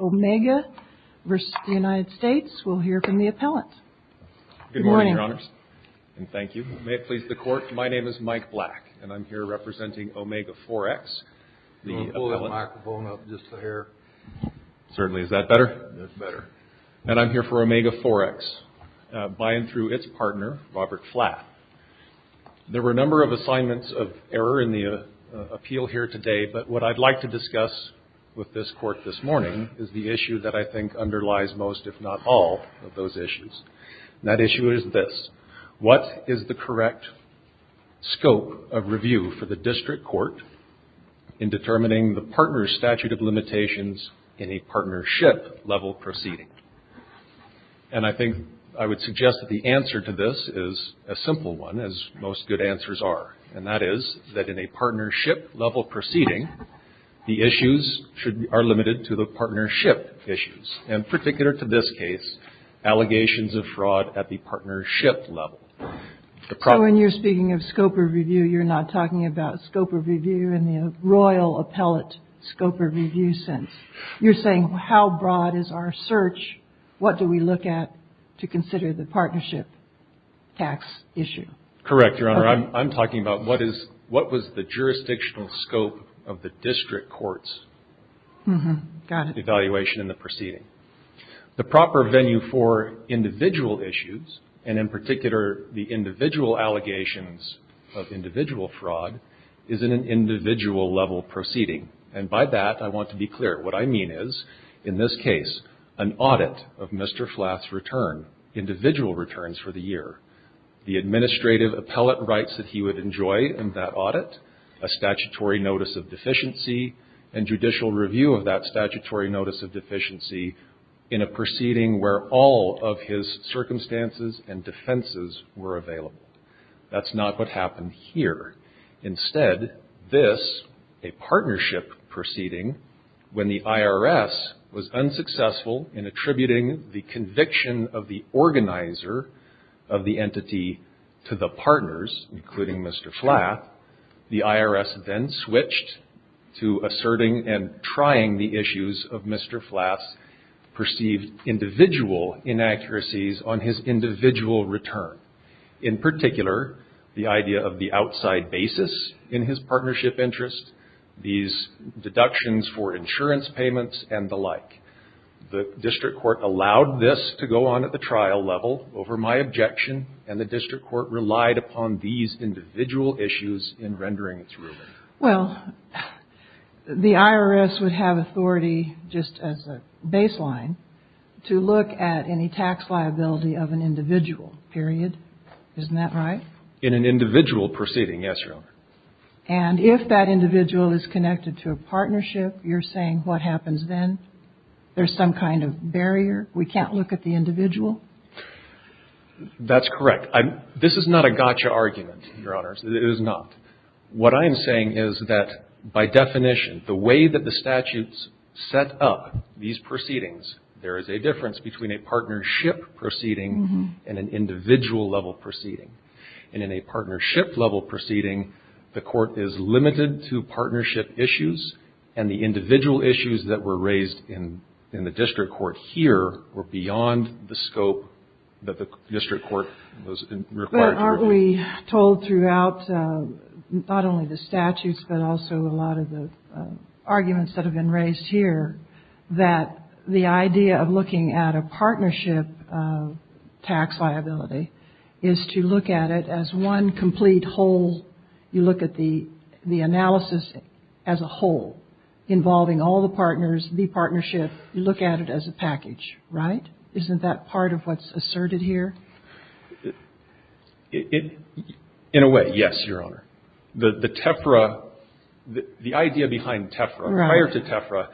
Omega v. United States. We'll hear from the appellant. Good morning, Your Honors, and thank you. May it please the Court, my name is Mike Black, and I'm here representing Omega Forex. Pull the microphone up just a hair. Certainly. Is that better? That's better. And I'm here for Omega Forex, by and through its partner, Robert Flatt. There were a number of assignments of error in the appeal here today, but what I'd like to discuss with this Court this morning is the issue that I think underlies most, if not all, of those issues. And that issue is this. What is the correct scope of review for the district court in determining the partner's statute of limitations in a partnership-level proceeding? And I think I would suggest that the answer to this is a simple one, as most good answers are. And that is that in a partnership-level proceeding, the issues are limited to the partnership issues. And particular to this case, allegations of fraud at the partnership level. So when you're speaking of scope of review, you're not talking about scope of review in the royal appellate scope of review sense. You're saying how broad is our search? What do we look at to consider the partnership tax issue? Correct, Your Honor. I'm talking about what was the jurisdictional scope of the district court's evaluation in the proceeding. The proper venue for individual issues, and in particular, the individual allegations of individual fraud, is in an individual-level proceeding. And by that, I want to be clear. What I mean is, in this case, an audit of Mr. Flath's return, individual returns for the year. The administrative appellate rights that he would enjoy in that audit, a statutory notice of deficiency, and judicial review of that statutory notice of deficiency in a proceeding where all of his circumstances and defenses were available. That's not what happened here. Instead, this, a partnership proceeding, when the IRS was unsuccessful in attributing the conviction of the organizer of the entity to the partners, including Mr. Flath, the IRS then switched to asserting and trying the issues of Mr. Flath's perceived individual inaccuracies on his individual return. In particular, the idea of the outside basis in his partnership interest, these deductions for insurance payments and the like. The district court allowed this to go on at the trial level over my objection, and the district court relied upon these individual issues in rendering its ruling. Well, the IRS would have authority, just as a baseline, to look at any tax liability of an individual, period. Isn't that right? In an individual proceeding, yes, Your Honor. And if that individual is connected to a partnership, you're saying what happens then? There's some kind of barrier? We can't look at the individual? That's correct. This is not a gotcha argument, Your Honors. It is not. What I am saying is that, by definition, the way that the statutes set up these proceedings, there is a difference between a partnership proceeding and an individual-level proceeding. And in a partnership-level proceeding, the court is limited to partnership issues, and the individual issues that were raised in the district court here were beyond the scope that the district court was required to review. We were told throughout not only the statutes but also a lot of the arguments that have been raised here that the idea of looking at a partnership tax liability is to look at it as one complete whole. You look at the analysis as a whole, involving all the partners, the partnership. You look at it as a package, right? Isn't that part of what's asserted here? In a way, yes, Your Honor. The idea behind TEFRA, prior to TEFRA,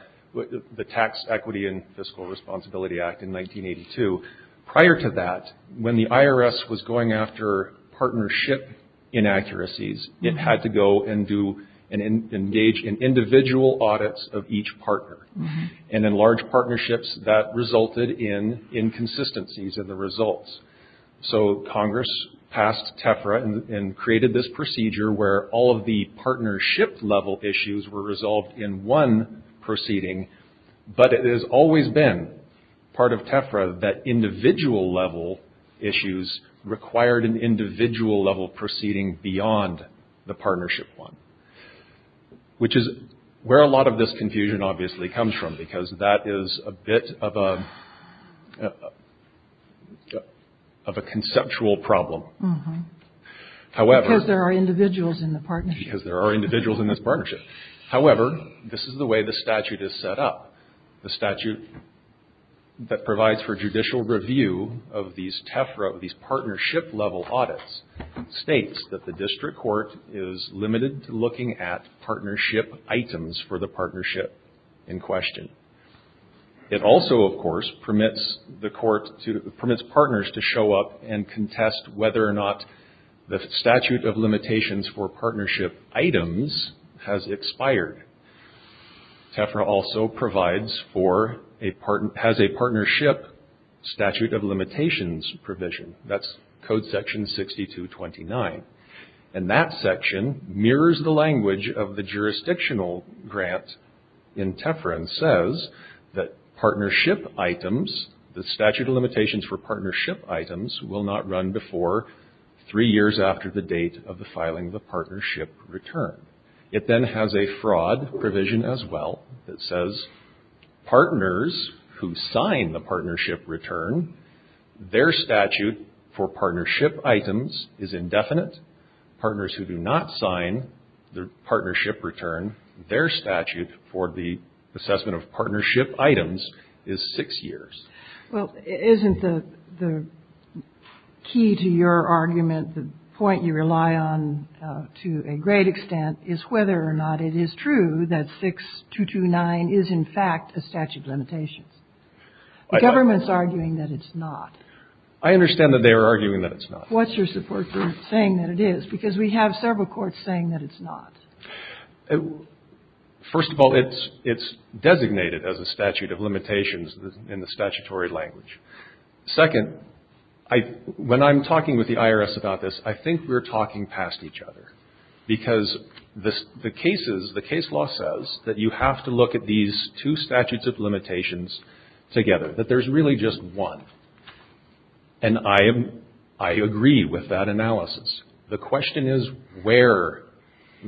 the Tax Equity and Fiscal Responsibility Act in 1982, prior to that, when the IRS was going after partnership inaccuracies, it had to go and engage in individual audits of each partner, and in large partnerships, that resulted in inconsistencies in the results. So Congress passed TEFRA and created this procedure where all of the partnership-level issues were resolved in one proceeding, but it has always been part of TEFRA that individual-level issues required an individual-level proceeding beyond the partnership one, which is where a lot of this confusion obviously comes from, because that is a bit of a conceptual problem. Because there are individuals in the partnership. Because there are individuals in this partnership. However, this is the way the statute is set up. The statute that provides for judicial review of these partnership-level audits states that the district court is limited to looking at partnership items for the partnership in question. It also, of course, permits partners to show up and contest whether or not the statute of limitations for partnership items has expired. TEFRA also has a partnership statute of limitations provision. That's Code Section 6229, and that section mirrors the language of the jurisdictional grant in TEFRA and says that partnership items, the statute of limitations for partnership items, will not run before three years after the date of the filing of the partnership return. It then has a fraud provision as well that says partners who sign the partnership return, their statute for partnership items is indefinite. Partners who do not sign the partnership return, their statute for the assessment of partnership items is six years. Well, isn't the key to your argument, the point you rely on to a great extent, is whether or not it is true that 6229 is, in fact, a statute of limitations? The government's arguing that it's not. I understand that they are arguing that it's not. What's your support for saying that it is? Because we have several courts saying that it's not. First of all, it's designated as a statute of limitations in the statutory language. Second, when I'm talking with the IRS about this, I think we're talking past each other, because the case law says that you have to look at these two statutes of limitations together, that there's really just one. And I agree with that analysis. The question is where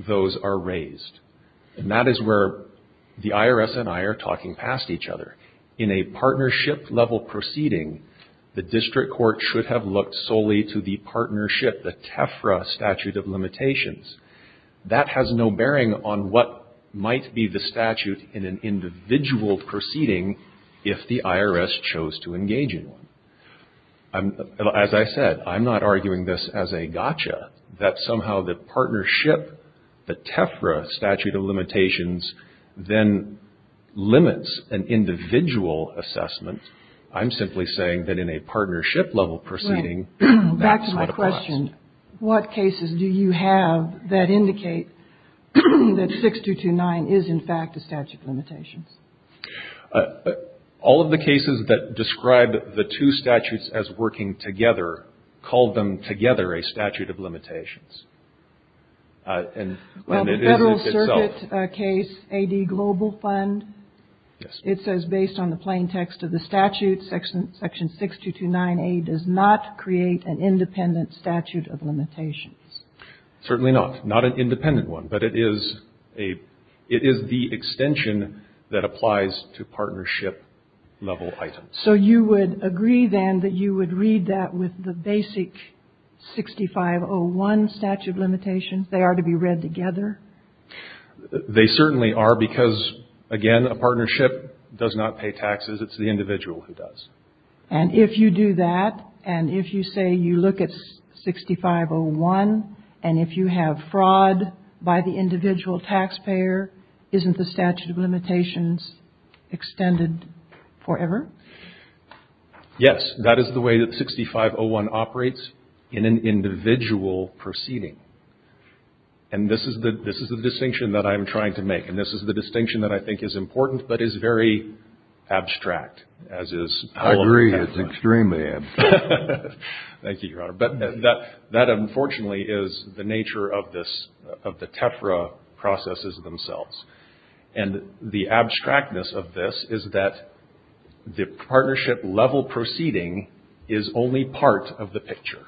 those are raised. And that is where the IRS and I are talking past each other. In a partnership-level proceeding, the district court should have looked solely to the partnership, the TEFRA statute of limitations. That has no bearing on what might be the statute in an individual proceeding if the IRS chose to engage in one. As I said, I'm not arguing this as a gotcha, that somehow the partnership, the TEFRA statute of limitations, then limits an individual assessment. I'm simply saying that in a partnership-level proceeding, that's what applies. Back to my question. What cases do you have that indicate that 6229 is, in fact, a statute of limitations? All of the cases that describe the two statutes as working together call them together a statute of limitations. Well, the Federal Circuit case, A.D. Global Fund, it says based on the plain text of the statute, section 6229A does not create an independent statute of limitations. Certainly not. Not an independent one, but it is the extension that applies to partnership-level items. So you would agree, then, that you would read that with the basic 6501 statute of limitations? They are to be read together? They certainly are because, again, a partnership does not pay taxes. It's the individual who does. And if you do that, and if you say you look at 6501, and if you have fraud by the individual taxpayer, isn't the statute of limitations extended forever? Yes. That is the way that 6501 operates in an individual proceeding. And this is the distinction that I'm trying to make. And this is the distinction that I think is important but is very abstract, as is all of the TEFRA. I agree. It's extremely abstract. Thank you, Your Honor. But that unfortunately is the nature of this, of the TEFRA processes themselves. And the abstractness of this is that the partnership-level proceeding is only part of the picture.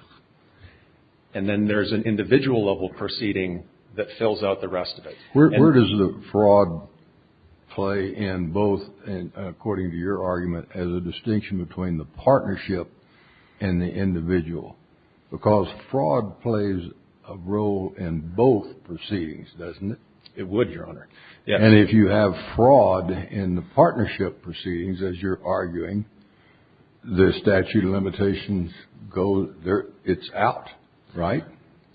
And then there's an individual-level proceeding that fills out the rest of it. Where does the fraud play in both, according to your argument, as a distinction between the partnership and the individual? Because fraud plays a role in both proceedings, doesn't it? It would, Your Honor. And if you have fraud in the partnership proceedings, as you're arguing, the statute of limitations, it's out, right?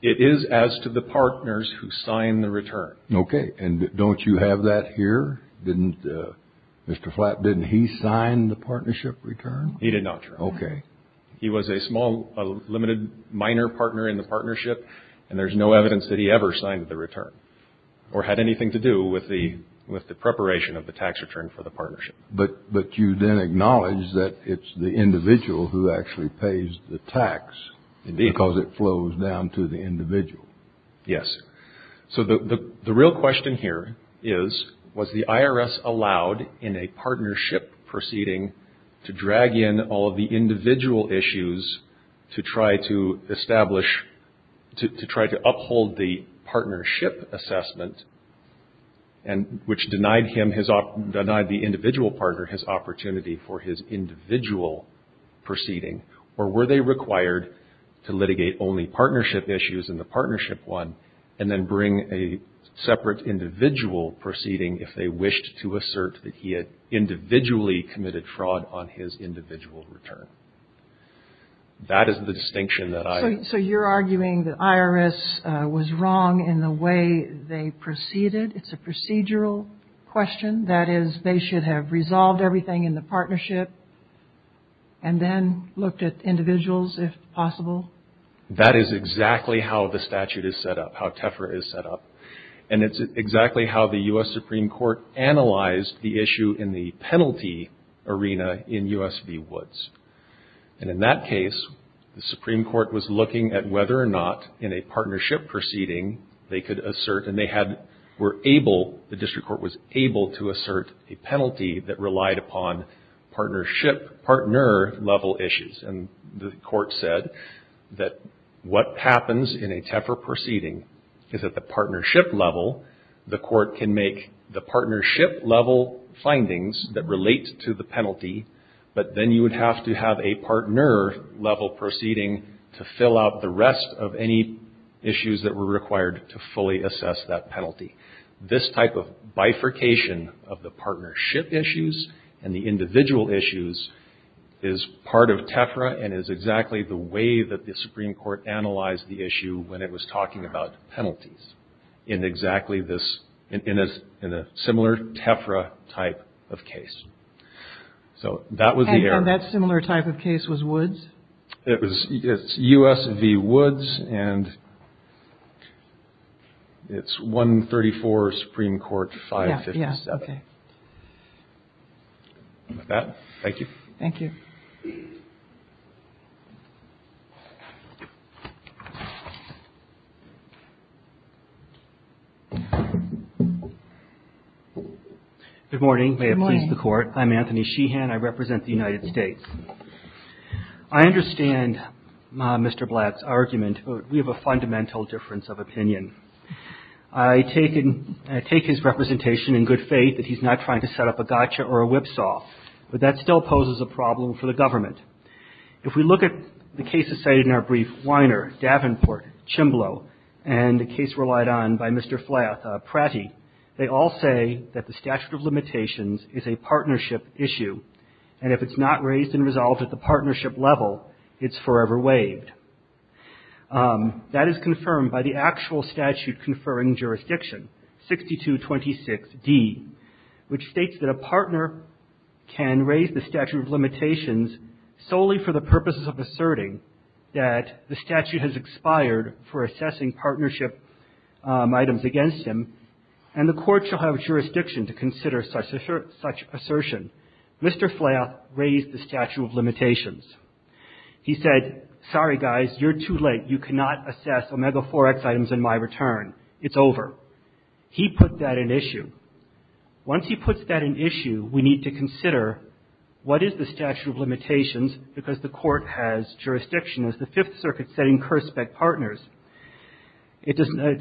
It is as to the partners who sign the return. Okay. And don't you have that here? Didn't Mr. Flatt, didn't he sign the partnership return? He did not, Your Honor. Okay. He was a small, limited minor partner in the partnership. And there's no evidence that he ever signed the return or had anything to do with the preparation of the tax return for the partnership. But you then acknowledge that it's the individual who actually pays the tax because it flows down to the individual. Yes. So the real question here is, was the IRS allowed in a partnership proceeding to drag in all of the individual issues to try to establish, to try to uphold the partnership assessment, which denied the individual partner his opportunity for his individual proceeding? Or were they required to litigate only partnership issues in the partnership one and then bring a separate individual proceeding if they wished to assert that he had individually committed fraud on his individual return? That is the distinction that I... So you're arguing that IRS was wrong in the way they proceeded. It's a procedural question. That is, they should have resolved everything in the partnership and then looked at individuals if possible? That is exactly how the statute is set up, how TEFRA is set up. And it's exactly how the U.S. Supreme Court analyzed the issue in the penalty arena in U.S. v. Woods. And in that case, the Supreme Court was looking at whether or not, in a partnership proceeding, they could assert, and they were able, the district court was able, to assert a penalty that relied upon partner-level issues. And the court said that what happens in a TEFRA proceeding is at the partnership level, the court can make the partnership-level findings that relate to the penalty, but then you would have to have a partner-level proceeding to fill out the rest of any issues that were required to fully assess that penalty. This type of bifurcation of the partnership issues and the individual issues is part of TEFRA and is exactly the way that the Supreme Court analyzed the issue when it was talking about penalties in exactly this... in a similar TEFRA type of case. So that was the error. And that similar type of case was Woods? It was U.S. v. Woods, and it's 134 Supreme Court 550. Yes, okay. With that, thank you. Thank you. Good morning. Good morning. May it please the Court. I'm Anthony Sheehan. I represent the United States. I understand Mr. Blatt's argument, but we have a fundamental difference of opinion. I take his representation in good faith that he's not trying to set up a gotcha or a whipsaw, but that still poses a problem for the government. If we look at the cases cited in our brief, Weiner, Davenport, Chimblow, and a case relied on by Mr. Pratty, they all say that the statute of limitations is a partnership issue, and if it's not raised and resolved at the partnership level, it's forever waived. That is confirmed by the actual statute conferring jurisdiction, 6226D, which states that a partner can raise the statute of limitations solely for the purposes of asserting that the statute has expired for assessing partnership items against him, and the court shall have jurisdiction to consider such assertion. He said, sorry, guys, you're too late. You cannot assess omega-4x items in my return. It's over. He put that in issue. Once he puts that in issue, we need to consider what is the statute of limitations, because the court has jurisdiction as the Fifth Circuit setting curse-spec partners. A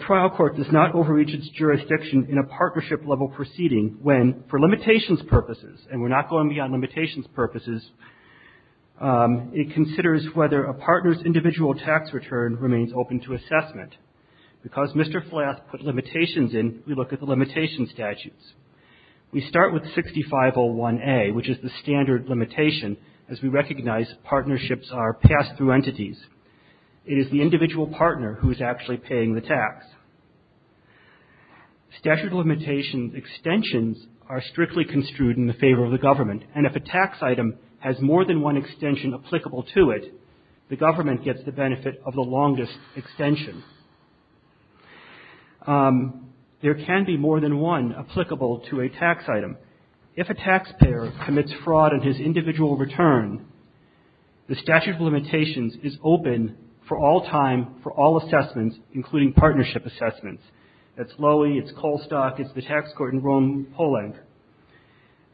trial court does not overreach its jurisdiction in a partnership-level proceeding when, for limitations purposes, and we're not going beyond limitations purposes, it considers whether a partner's individual tax return remains open to assessment. Because Mr. Flath put limitations in, we look at the limitation statutes. We start with 6501A, which is the standard limitation, as we recognize partnerships are pass-through entities. It is the individual partner who is actually paying the tax. Statute of limitations extensions are strictly construed in the favor of the government, and if a tax item has more than one extension applicable to it, the government gets the benefit of the longest extension. There can be more than one applicable to a tax item. If a taxpayer commits fraud in his individual return, the statute of limitations is open for all time for all assessments, including partnership assessments. That's Lowy. It's Colstock. It's the tax court in Rome, Poland.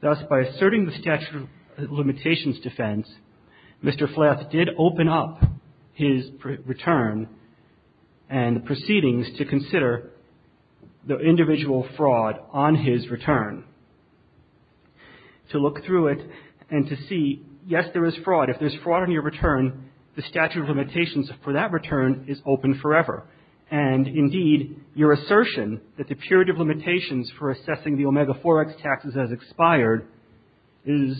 Thus, by asserting the statute of limitations defense, Mr. Flath did open up his return and proceedings to consider the individual fraud on his return. To look through it and to see, yes, there is fraud. If there's fraud on your return, the statute of limitations for that return is open forever. And, indeed, your assertion that the period of limitations for assessing the Omega 4X taxes has expired is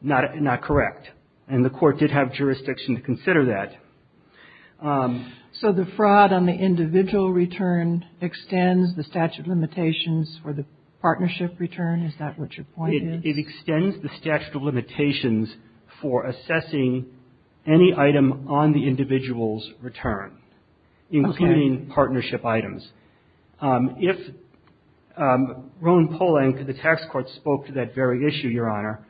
not correct. And the court did have jurisdiction to consider that. So the fraud on the individual return extends the statute of limitations for the partnership return? Is that what your point is? It extends the statute of limitations for assessing any item on the individual's return, including partnership items. If Rome, Poland, the tax court, spoke to that very issue, Your Honor,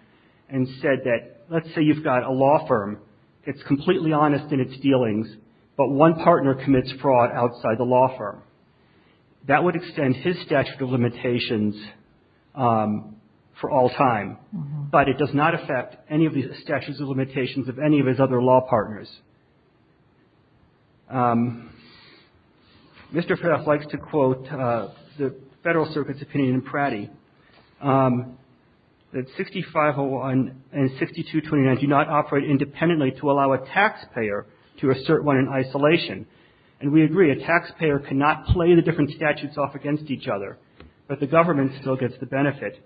and said that, let's say you've got a law firm. It's completely honest in its dealings, but one partner commits fraud outside the law firm. That would extend his statute of limitations for all time. But it does not affect any of the statutes of limitations of any of his other law partners. Mr. Flath likes to quote the Federal Circuit's opinion in Pratty that 6501 and 6229 do not operate independently to allow a taxpayer to assert one in isolation. And we agree, a taxpayer cannot play the different statutes off against each other. But the government still gets the benefit.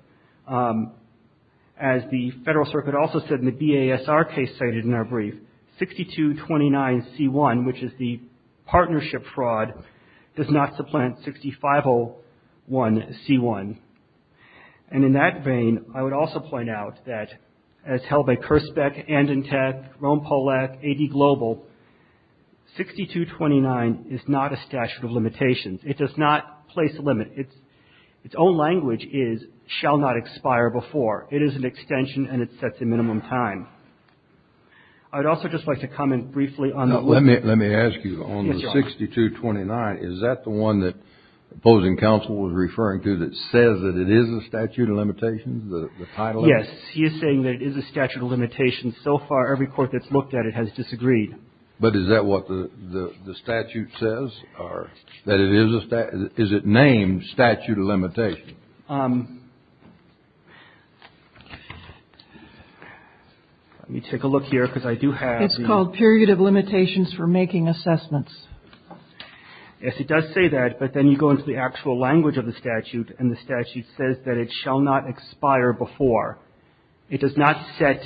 As the Federal Circuit also said in the BASR case cited in our brief, 6229C1, which is the partnership fraud, does not supplant 6501C1. And in that vein, I would also point out that, as held by Kurzbeck, Andantec, Rome-Polak, AD Global, 6229 is not a statute of limitations. It does not place a limit. Its own language is, shall not expire before. It is an extension, and it sets a minimum time. I would also just like to comment briefly on the limit. Let me ask you, on the 6229, is that the one that opposing counsel was referring to that says that it is a statute of limitations, the title of it? Yes. He is saying that it is a statute of limitations. So far, every court that's looked at it has disagreed. But is that what the statute says, or that it is a statute? Is it named statute of limitations? Let me take a look here, because I do have the... Yes, it does say that. But then you go into the actual language of the statute, and the statute says that it shall not expire before. It does not set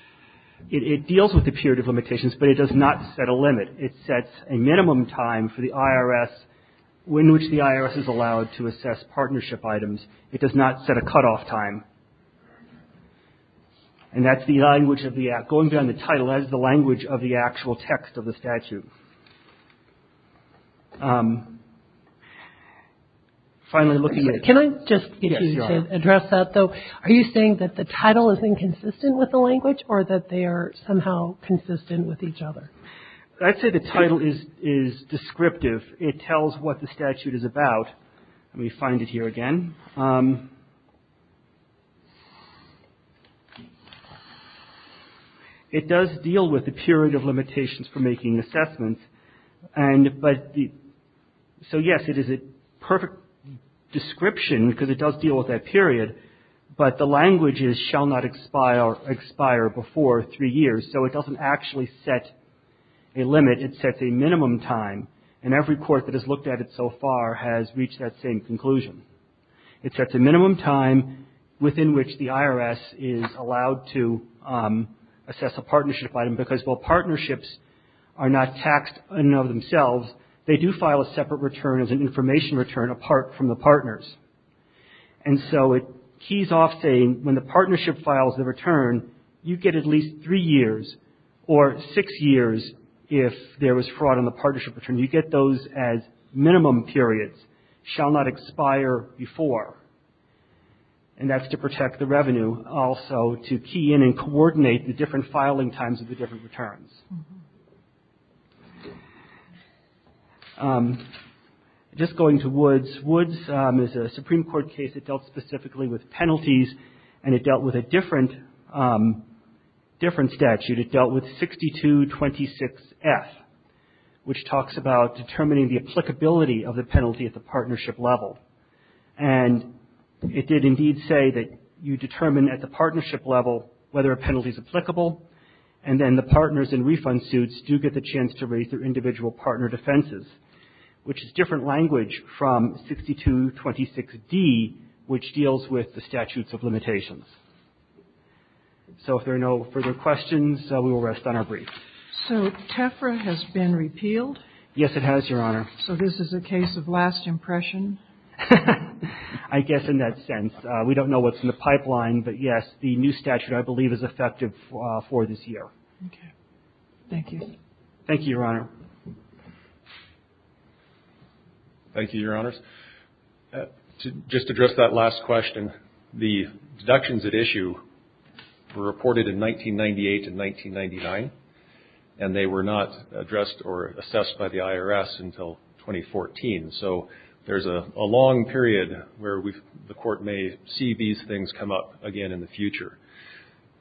– it deals with the period of limitations, but it does not set a limit. It sets a minimum time for the IRS in which the IRS is allowed to assess partnership items. It does not set a cutoff time. And that's the language of the – going beyond the title, that's the language of the actual text of the statute. Finally, looking at... Can I just address that, though? Are you saying that the title is inconsistent with the language, or that they are somehow consistent with each other? I'd say the title is descriptive. It tells what the statute is about. Let me find it here again. It does deal with the period of limitations for making assessments. And – but the – so, yes, it is a perfect description, because it does deal with that period. But the language is shall not expire before three years. So it doesn't actually set a limit. It sets a minimum time. And every court that has looked at it so far has reached that same conclusion. It sets a minimum time within which the IRS is allowed to assess a partnership item, because while partnerships are not taxed in and of themselves, they do file a separate return as an information return apart from the partners. And so it keys off saying when the partnership files the return, you get at least three years, or six years if there was fraud in the partnership return. You get those as minimum periods, shall not expire before. And that's to protect the revenue also to key in and coordinate the different filing times of the different returns. Just going to Woods. Woods is a Supreme Court case that dealt specifically with penalties, and it dealt with a different statute. It dealt with 6226F, which talks about determining the applicability of the penalty at the partnership level. And it did indeed say that you determine at the partnership level whether a penalty is applicable, and then the partners in refund suits do get the chance to raise their individual partner defenses, which is different language from 6226D, which deals with the statutes of limitations. So if there are no further questions, we will rest on our brief. So TEFRA has been repealed? Yes, it has, Your Honor. So this is a case of last impression? I guess in that sense. We don't know what's in the pipeline, but, yes, the new statute I believe is effective for this year. Okay. Thank you. Thank you, Your Honor. Thank you, Your Honors. Just to address that last question, the deductions at issue were reported in 1998 and 1999, and they were not addressed or assessed by the IRS until 2014. So there's a long period where the Court may see these things come up again in the future.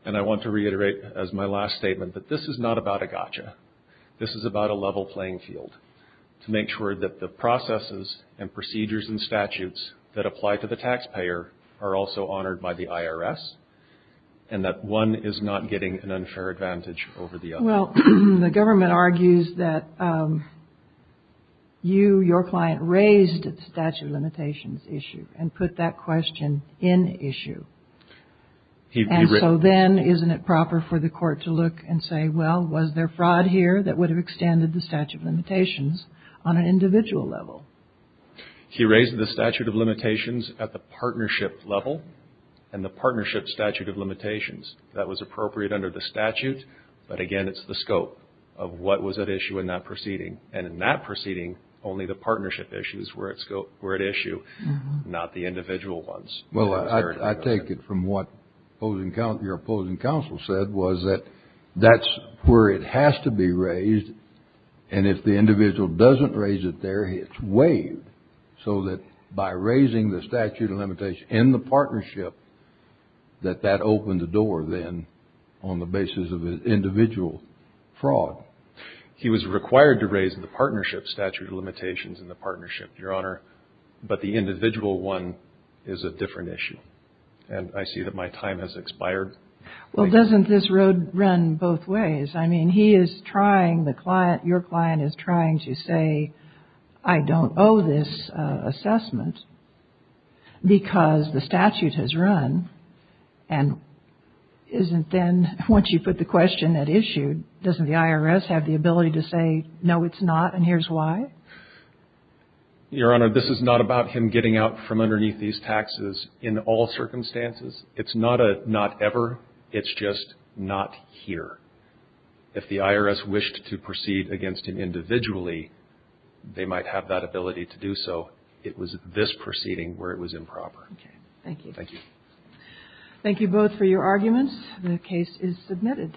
And I want to reiterate as my last statement that this is not about a gotcha. This is about a level playing field to make sure that the processes and procedures and statutes that apply to the taxpayer are also honored by the IRS and that one is not getting an unfair advantage over the other. Well, the government argues that you, your client, raised the statute of limitations issue and put that question in issue. And so then isn't it proper for the Court to look and say, well, was there fraud here that would have extended the statute of limitations on an individual level? He raised the statute of limitations at the partnership level and the partnership statute of limitations. That was appropriate under the statute, but, again, it's the scope of what was at issue in that proceeding. And in that proceeding, only the partnership issues were at issue, not the individual ones. Well, I take it from what your opposing counsel said was that that's where it has to be raised, and if the individual doesn't raise it there, it's waived, so that by raising the statute of limitations in the partnership, that that opened the door then on the basis of individual fraud. He was required to raise the partnership statute of limitations in the partnership, Your Honor, but the individual one is a different issue. And I see that my time has expired. Well, doesn't this road run both ways? I mean, he is trying, your client is trying to say, I don't owe this assessment because the statute has run and isn't then, once you put the question at issue, doesn't the IRS have the ability to say, no, it's not, and here's why? Your Honor, this is not about him getting out from underneath these taxes in all circumstances. It's not a not ever. It's just not here. If the IRS wished to proceed against him individually, they might have that ability to do so. It was this proceeding where it was improper. Okay. Thank you. Thank you. Thank you both for your arguments. The case is submitted.